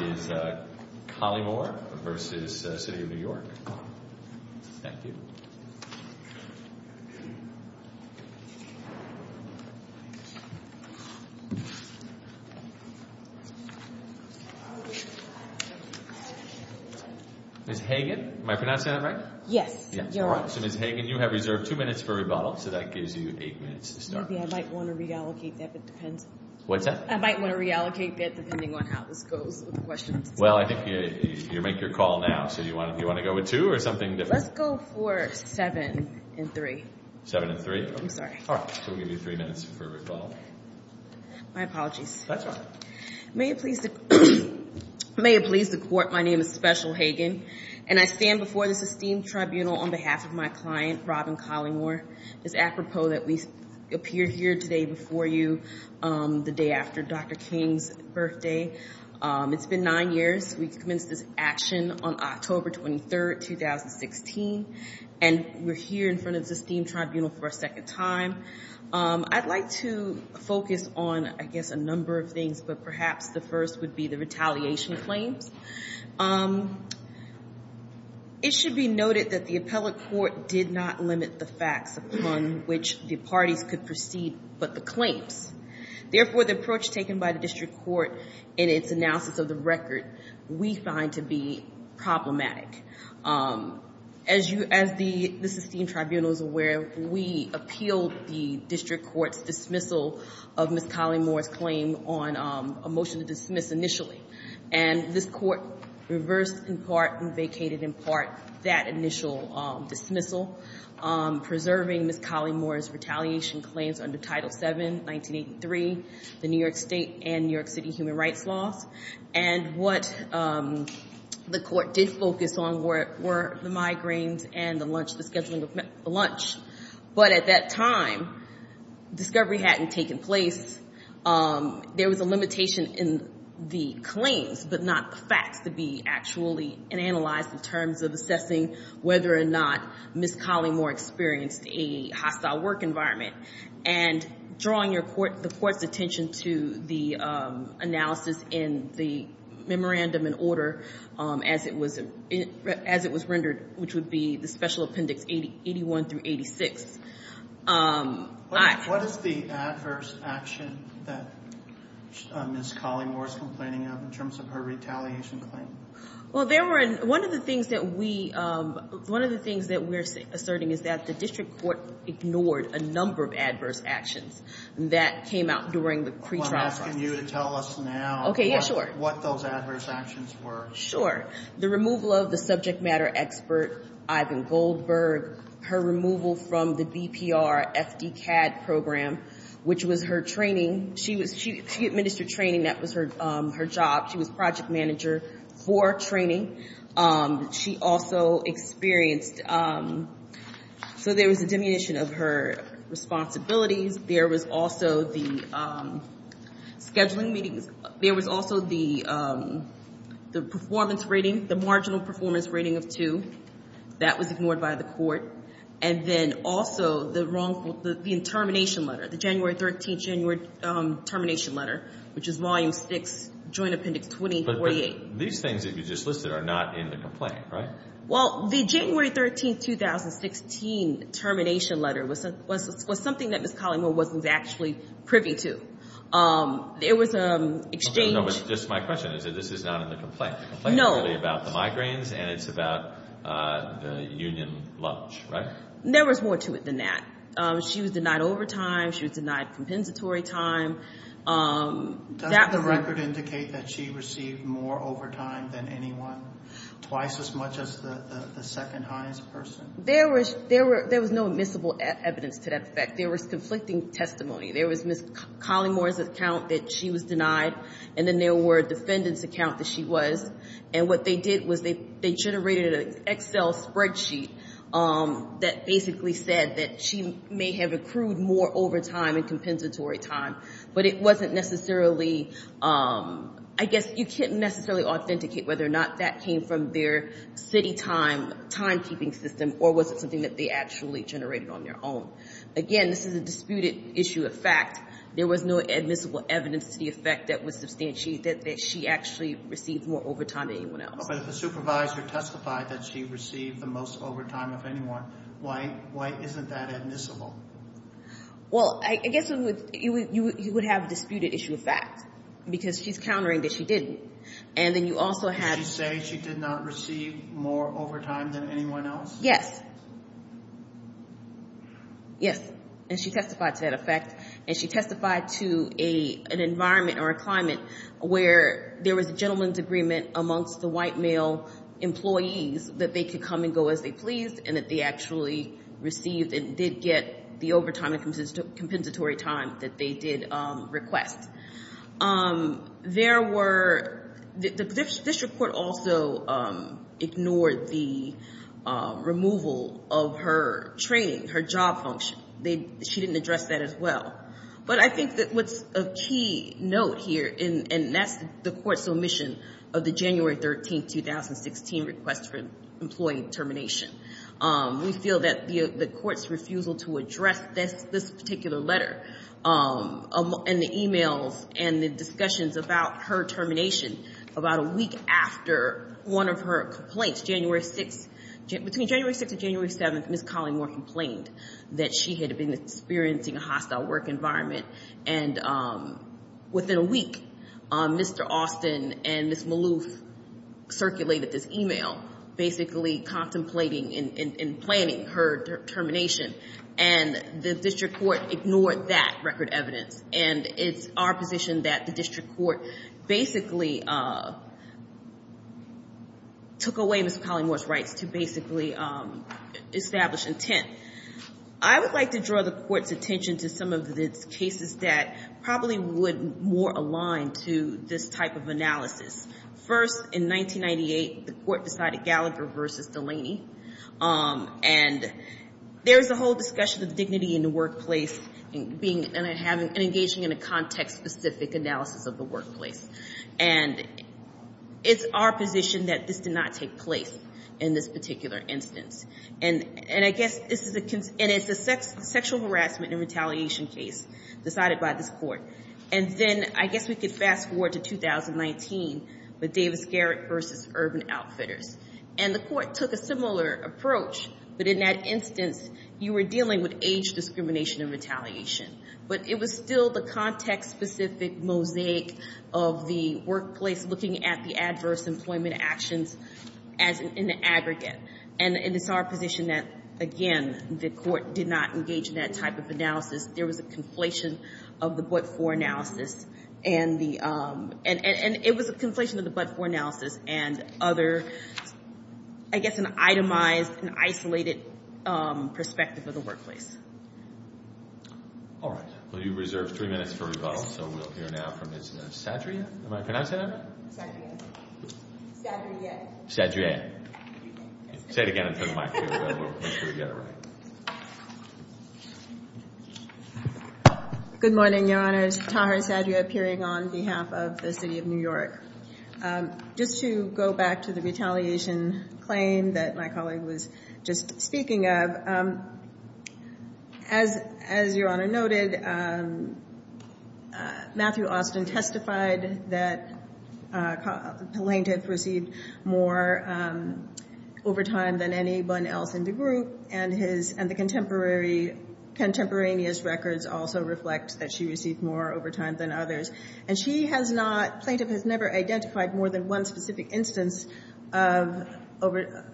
Ms. Hagan, you have reserved 2 minutes for rebuttal, so that gives you 8 minutes to start. I might want to reallocate that depending on how this goes. Well, I think you make your call now, so do you want to go with 2 or something different? Let's go for 7 and 3. 7 and 3? I'm sorry. All right, so we'll give you 3 minutes for rebuttal. My apologies. That's all right. May it please the Court, my name is Special Hagan, and I stand before this esteemed tribunal on behalf of my client, Robin Collymore. It's apropos that we appear here today before you the day after Dr. King's birthday. It's been 9 years. We commenced this action on October 23, 2016, and we're here in front of this esteemed tribunal for a second time. I'd like to focus on, I guess, a number of things, but perhaps the first would be the retaliation claims. It should be noted that the appellate court did not limit the facts upon which the parties could proceed but the claims. Therefore, the approach taken by the district court in its analysis of the record we find to be problematic. As the esteemed tribunal is aware, we appealed the district court's dismissal of Ms. Collymore's claim on a motion to dismiss initially. And this court reversed in part and vacated in part that initial dismissal, preserving Ms. Collymore's retaliation claims under Title VII, 1983, the New York State and New York City human rights laws. And what the court did focus on were the migraines and the lunch, the scheduling of the lunch. But at that time, discovery hadn't taken place. There was a limitation in the claims but not the facts to be actually analyzed in terms of assessing whether or not Ms. Collymore experienced a hostile work environment. And drawing the court's attention to the analysis in the memorandum in order as it was rendered, which would be the special appendix 81 through 86. What is the adverse action that Ms. Collymore is complaining of in terms of her retaliation claim? Well, there were one of the things that we're asserting is that the district court ignored a number of adverse actions that came out during the pretrial process. I'm asking you to tell us now what those adverse actions were. Sure. The removal of the subject matter expert, Ivan Goldberg. Her removal from the BPR FDCAD program, which was her training. She administered training. That was her job. She was project manager for training. She also experienced, so there was a diminution of her responsibilities. There was also the scheduling meetings. There was also the performance rating, the marginal performance rating of 2. That was ignored by the court. And then also the termination letter, the January 13, January termination letter, which is volume 6, joint appendix 2048. But these things that you just listed are not in the complaint, right? Well, the January 13, 2016 termination letter was something that Ms. Collymore wasn't actually privy to. It was an exchange. Just my question is that this is not in the complaint. The complaint is really about the migraines and it's about the union lunch, right? There was more to it than that. She was denied overtime. She was denied compensatory time. Doesn't the record indicate that she received more overtime than anyone, twice as much as the second highest person? There was no admissible evidence to that effect. There was conflicting testimony. There was Ms. Collymore's account that she was denied, and then there were defendants' accounts that she was. And what they did was they generated an Excel spreadsheet that basically said that she may have accrued more overtime and compensatory time. But it wasn't necessarily – I guess you can't necessarily authenticate whether or not that came from their city timekeeping system or was it something that they actually generated on their own. Again, this is a disputed issue of fact. There was no admissible evidence to the effect that she actually received more overtime than anyone else. But if the supervisor testified that she received the most overtime of anyone, why isn't that admissible? Well, I guess you would have a disputed issue of fact because she's countering that she didn't. And then you also have – Did she say she did not receive more overtime than anyone else? Yes. Yes, and she testified to that effect. And she testified to an environment or a climate where there was a gentleman's agreement amongst the white male employees that they could come and go as they pleased and that they actually received and did get the overtime and compensatory time that they did request. There were – the district court also ignored the removal of her training, her job function. She didn't address that as well. But I think that what's a key note here, and that's the court's omission of the January 13, 2016, request for employee termination. We feel that the court's refusal to address this particular letter and the e-mails and the discussions about her termination about a week after one of her complaints, January 6th – between January 6th and January 7th, when Ms. Collingmore complained that she had been experiencing a hostile work environment. And within a week, Mr. Austin and Ms. Maloof circulated this e-mail basically contemplating and planning her termination. And the district court ignored that record evidence. And it's our position that the district court basically took away Ms. Collingmore's rights to basically establish intent. I would like to draw the court's attention to some of the cases that probably would more align to this type of analysis. First, in 1998, the court decided Gallagher versus Delaney. And there's a whole discussion of dignity in the workplace and engaging in a context-specific analysis of the workplace. And it's our position that this did not take place in this particular instance. And I guess this is a – and it's a sexual harassment and retaliation case decided by this court. And then I guess we could fast-forward to 2019 with Davis-Garrett versus Urban Outfitters. And the court took a similar approach, but in that instance, you were dealing with age discrimination and retaliation. But it was still the context-specific mosaic of the workplace looking at the adverse employment actions as an aggregate. And it's our position that, again, the court did not engage in that type of analysis. There was a conflation of the but-for analysis and the – and it was a conflation of the but-for analysis and other – I guess an itemized, an isolated perspective of the workplace. All right. Well, you reserved three minutes for rebuttal, so we'll hear now from Ms. Sadria. Am I pronouncing that right? Sadria. Sadria. Sadria. Say it again into the mic so we can make sure we get it right. Good morning, Your Honors. Taha Sadria appearing on behalf of the City of New York. Just to go back to the retaliation claim that my colleague was just speaking of, as Your Honor noted, Matthew Austin testified that Plaintiff received more overtime than anyone else in the group. And his – and the contemporary – contemporaneous records also reflect that she received more overtime than others. And she has not – Plaintiff has never identified more than one specific instance of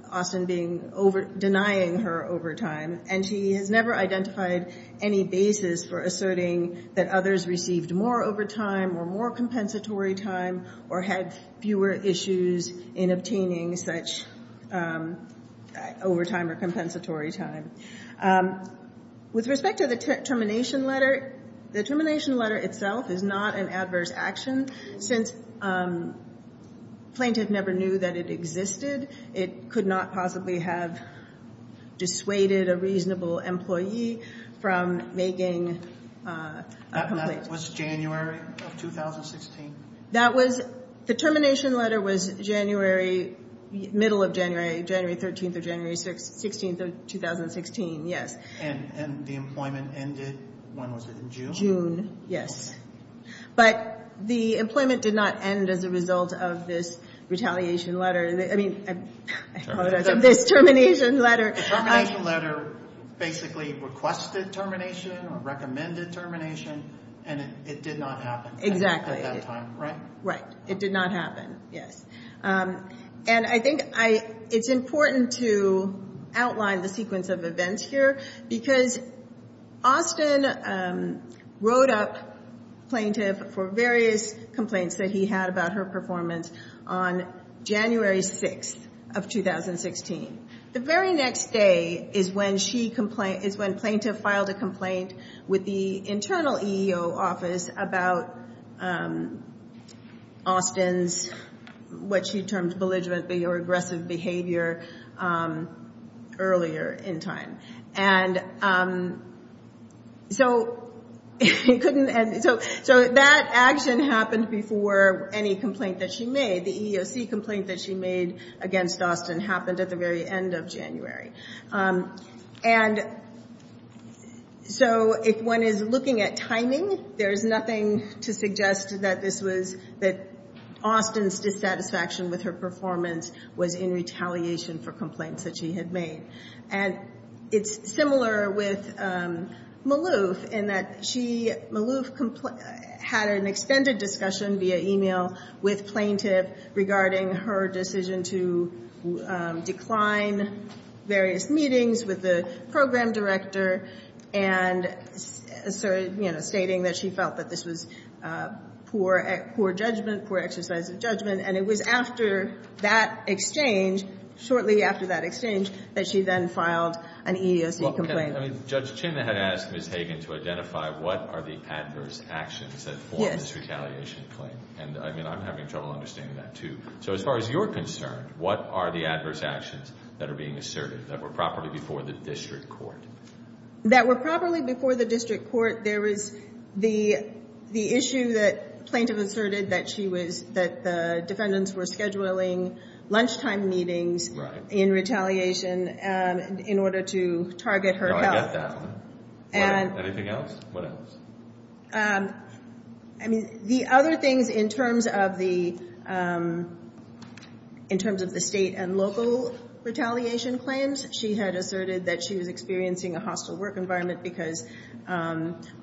Austin being – denying her overtime. And she has never identified any basis for asserting that others received more overtime or more compensatory time or had fewer issues in obtaining such overtime or compensatory time. With respect to the termination letter, the termination letter itself is not an adverse action. Since Plaintiff never knew that it existed, it could not possibly have dissuaded a reasonable employee from making a complaint. That was January of 2016? That was – the termination letter was January – middle of January, January 13th or January 16th of 2016, yes. And the employment ended – when was it, in June? June, yes. But the employment did not end as a result of this retaliation letter. I mean – I apologize – this termination letter. The termination letter basically requested termination or recommended termination, and it did not happen at that time, right? Exactly. Right. It did not happen, yes. And I think I – it's important to outline the sequence of events here, because Austin wrote up Plaintiff for various complaints that he had about her performance on January 6th of 2016. The very next day is when she – is when Plaintiff filed a complaint with the internal EEO office about Austin's – what she termed belligerently or aggressive behavior earlier in time. And so it couldn't – so that action happened before any complaint that she made. The EEOC complaint that she made against Austin happened at the very end of January. And so if one is looking at timing, there is nothing to suggest that this was – that Austin's dissatisfaction with her performance was in retaliation for complaints that she had made. And it's similar with Malouf, in that she – Malouf had an extended discussion via e-mail with Plaintiff regarding her decision to decline various meetings with the program director and, you know, stating that she felt that this was poor judgment, poor exercise of judgment. And it was after that exchange, shortly after that exchange, that she then filed an EEOC complaint. Well, can I – I mean, Judge Chin had asked Ms. Hagan to identify what are the adverse actions that form this retaliation claim. And, I mean, I'm having trouble understanding that, too. So as far as you're concerned, what are the adverse actions that are being asserted that were properly before the district court? That were properly before the district court, there was the issue that Plaintiff asserted that she was – that the defendants were scheduling lunchtime meetings in retaliation in order to target her health. Do I get that one? Anything else? What else? I mean, the other things in terms of the – in terms of the state and local retaliation claims, she had asserted that she was experiencing a hostile work environment because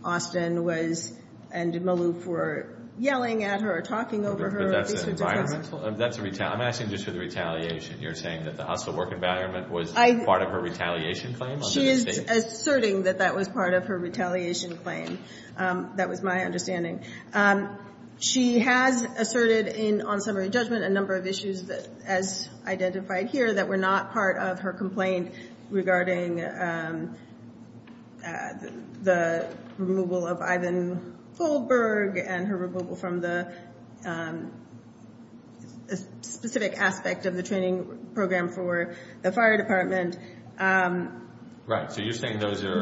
Austin was – and Maloof were yelling at her or talking over her. But that's an environmental – that's a – I'm asking just for the retaliation. You're saying that the hostile work environment was part of her retaliation claim? She is asserting that that was part of her retaliation claim. That was my understanding. She has asserted in – on summary judgment, a number of issues as identified here that were not part of her complaint regarding the removal of Ivan Goldberg and her removal from the specific aspect of the training program for the fire department. Right. So you're saying those are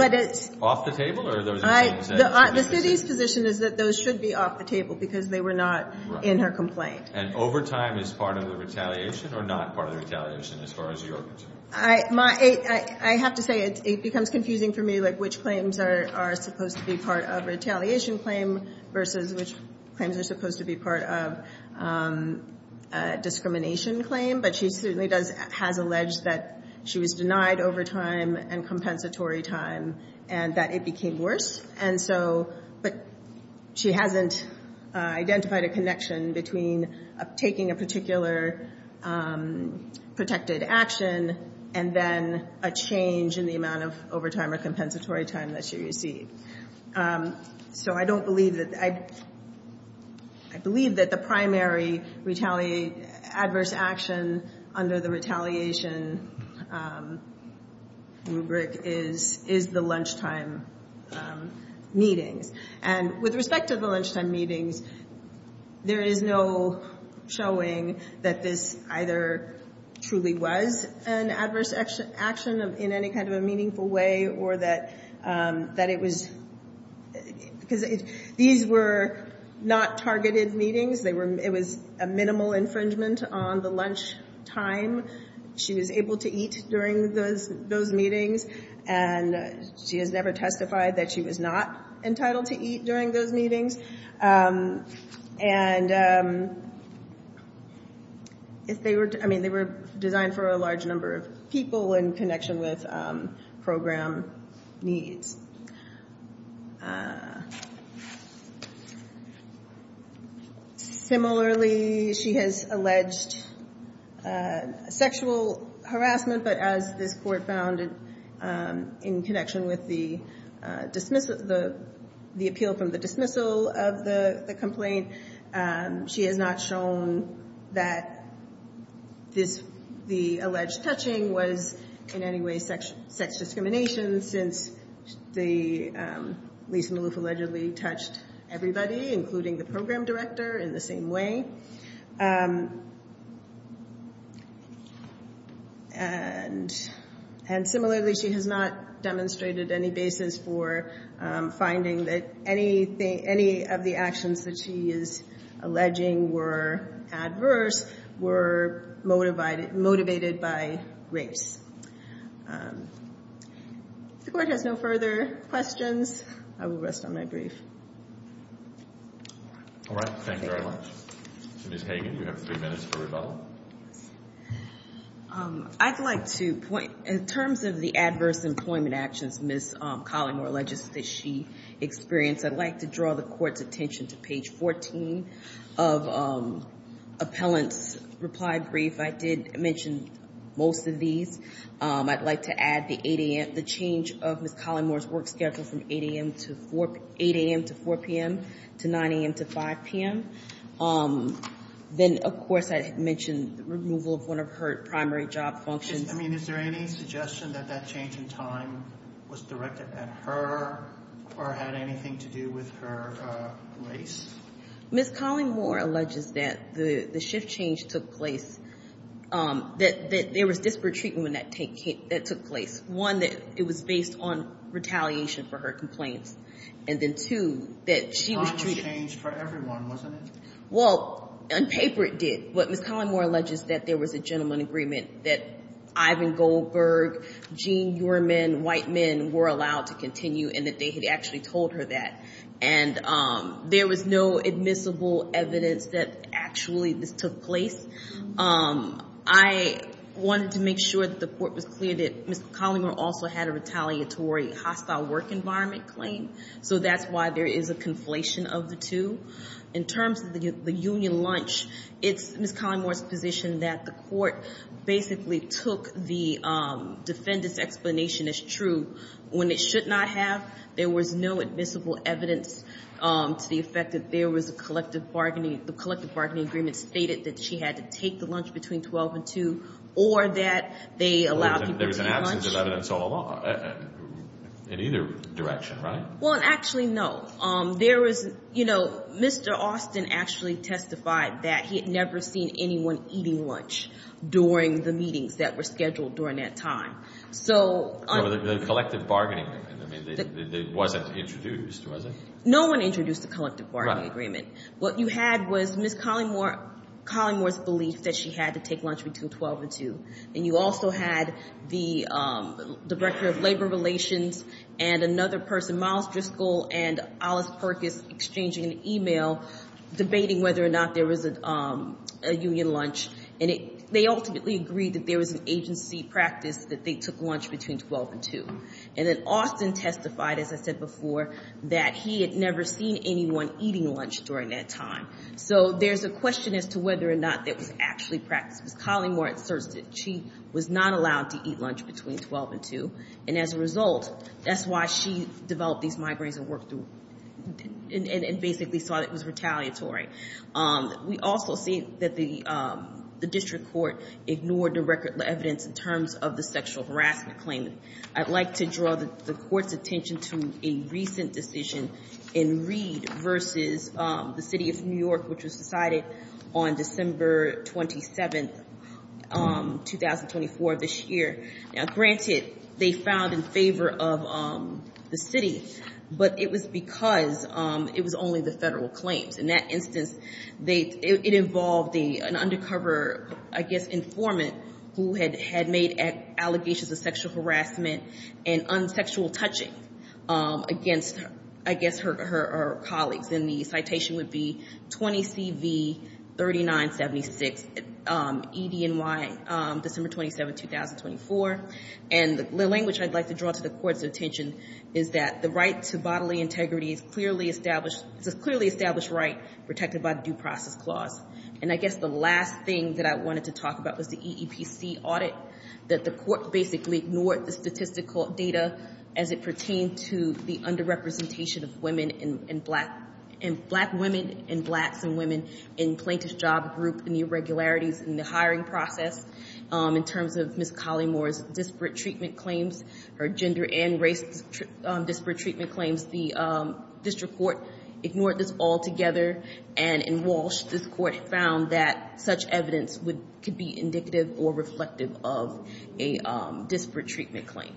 off the table or those are things that – The city's position is that those should be off the table because they were not in her complaint. And overtime is part of the retaliation or not part of the retaliation as far as you're concerned? I have to say it becomes confusing for me, like, which claims are supposed to be part of retaliation claim versus which claims are supposed to be part of discrimination claim. But she certainly does – has alleged that she was denied overtime and compensatory time and that it became worse. And so – but she hasn't identified a connection between taking a particular protected action and then a change in the amount of overtime or compensatory time that she received. So I don't believe that – I believe that the primary retaliate – And with respect to the lunchtime meetings, there is no showing that this either truly was an adverse action in any kind of a meaningful way or that it was – because these were not targeted meetings. They were – it was a minimal infringement on the lunchtime she was able to eat during those meetings. And she has never testified that she was not entitled to eat during those meetings. And if they were – I mean, they were designed for a large number of people in connection with program needs. Similarly, she has alleged sexual harassment, but as this court found in connection with the dismissal – the appeal from the dismissal of the complaint, she has not shown that this – the alleged touching was in any way sex discrimination since the – Lisa Maloof allegedly touched everybody, including the program director, in the same way. And similarly, she has not demonstrated any basis for finding that anything – any of the actions that she is alleging were adverse were motivated by race. If the Court has no further questions, I will rest on my brief. All right. Thank you very much. Ms. Hagan, you have three minutes for rebuttal. I'd like to point – in terms of the adverse employment actions Ms. Collymore alleges that she experienced, I'd like to draw the Court's attention to page 14 of Appellant's reply brief. I did mention most of these. I'd like to add the 8 a.m. – the change of Ms. Collymore's work schedule from 8 a.m. to 4 – 8 a.m. to 4 p.m. to 9 a.m. to 5 p.m. Then, of course, I had mentioned the removal of one of her primary job functions. I mean, is there any suggestion that that change in time was directed at her or had anything to do with her race? Ms. Collymore alleges that the shift change took place – that there was disparate treatment that took place. One, that it was based on retaliation for her complaints. And then, two, that she was treated – Well, on paper it did. But Ms. Collymore alleges that there was a gentleman agreement that Ivan Goldberg, Jean Uriman, white men were allowed to continue and that they had actually told her that. And there was no admissible evidence that actually this took place. I wanted to make sure that the Court was clear that Ms. Collymore also had a retaliatory hostile work environment claim. So that's why there is a conflation of the two. In terms of the union lunch, it's Ms. Collymore's position that the Court basically took the defendant's explanation as true. When it should not have, there was no admissible evidence to the effect that there was a collective bargaining – the collective bargaining agreement stated that she had to take the lunch between 12 and 2 or that they allowed people to eat lunch. There was no evidence in either direction, right? Well, actually, no. There was – you know, Mr. Austin actually testified that he had never seen anyone eating lunch during the meetings that were scheduled during that time. So – The collective bargaining agreement. It wasn't introduced, was it? No one introduced the collective bargaining agreement. What you had was Ms. Collymore's belief that she had to take lunch between 12 and 2. And you also had the Director of Labor Relations and another person, Miles Driscoll and Alice Perkis, exchanging an email debating whether or not there was a union lunch. And they ultimately agreed that there was an agency practice that they took lunch between 12 and 2. And then Austin testified, as I said before, that he had never seen anyone eating lunch during that time. So there's a question as to whether or not that was actually practiced. Ms. Collymore asserts that she was not allowed to eat lunch between 12 and 2. And as a result, that's why she developed these migraines and worked through – and basically saw that it was retaliatory. We also see that the district court ignored the record of evidence in terms of the sexual harassment claim. I'd like to draw the court's attention to a recent decision in Reed versus the City of New York, which was decided on December 27, 2024, this year. Now, granted, they found in favor of the city, but it was because it was only the federal claims. In that instance, it involved an undercover, I guess, informant who had made allegations of sexual harassment and unsexual touching against, I guess, her colleagues. And the citation would be 20CV3976, EDNY, December 27, 2024. And the language I'd like to draw to the court's attention is that the right to bodily integrity is clearly established – it's a clearly established right protected by the Due Process Clause. And I guess the last thing that I wanted to talk about was the EEPC audit, that the court basically ignored the statistical data as it pertained to the underrepresentation of women and black – black women and blacks and women in plaintiff's job group and the irregularities in the hiring process. In terms of Ms. Collymore's disparate treatment claims, her gender and race disparate treatment claims, the district court ignored this altogether and in Walsh, this court found that such evidence could be indicative or reflective of a disparate treatment claim.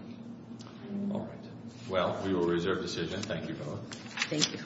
All right. Well, we will reserve decision. Thank you both. Thank you.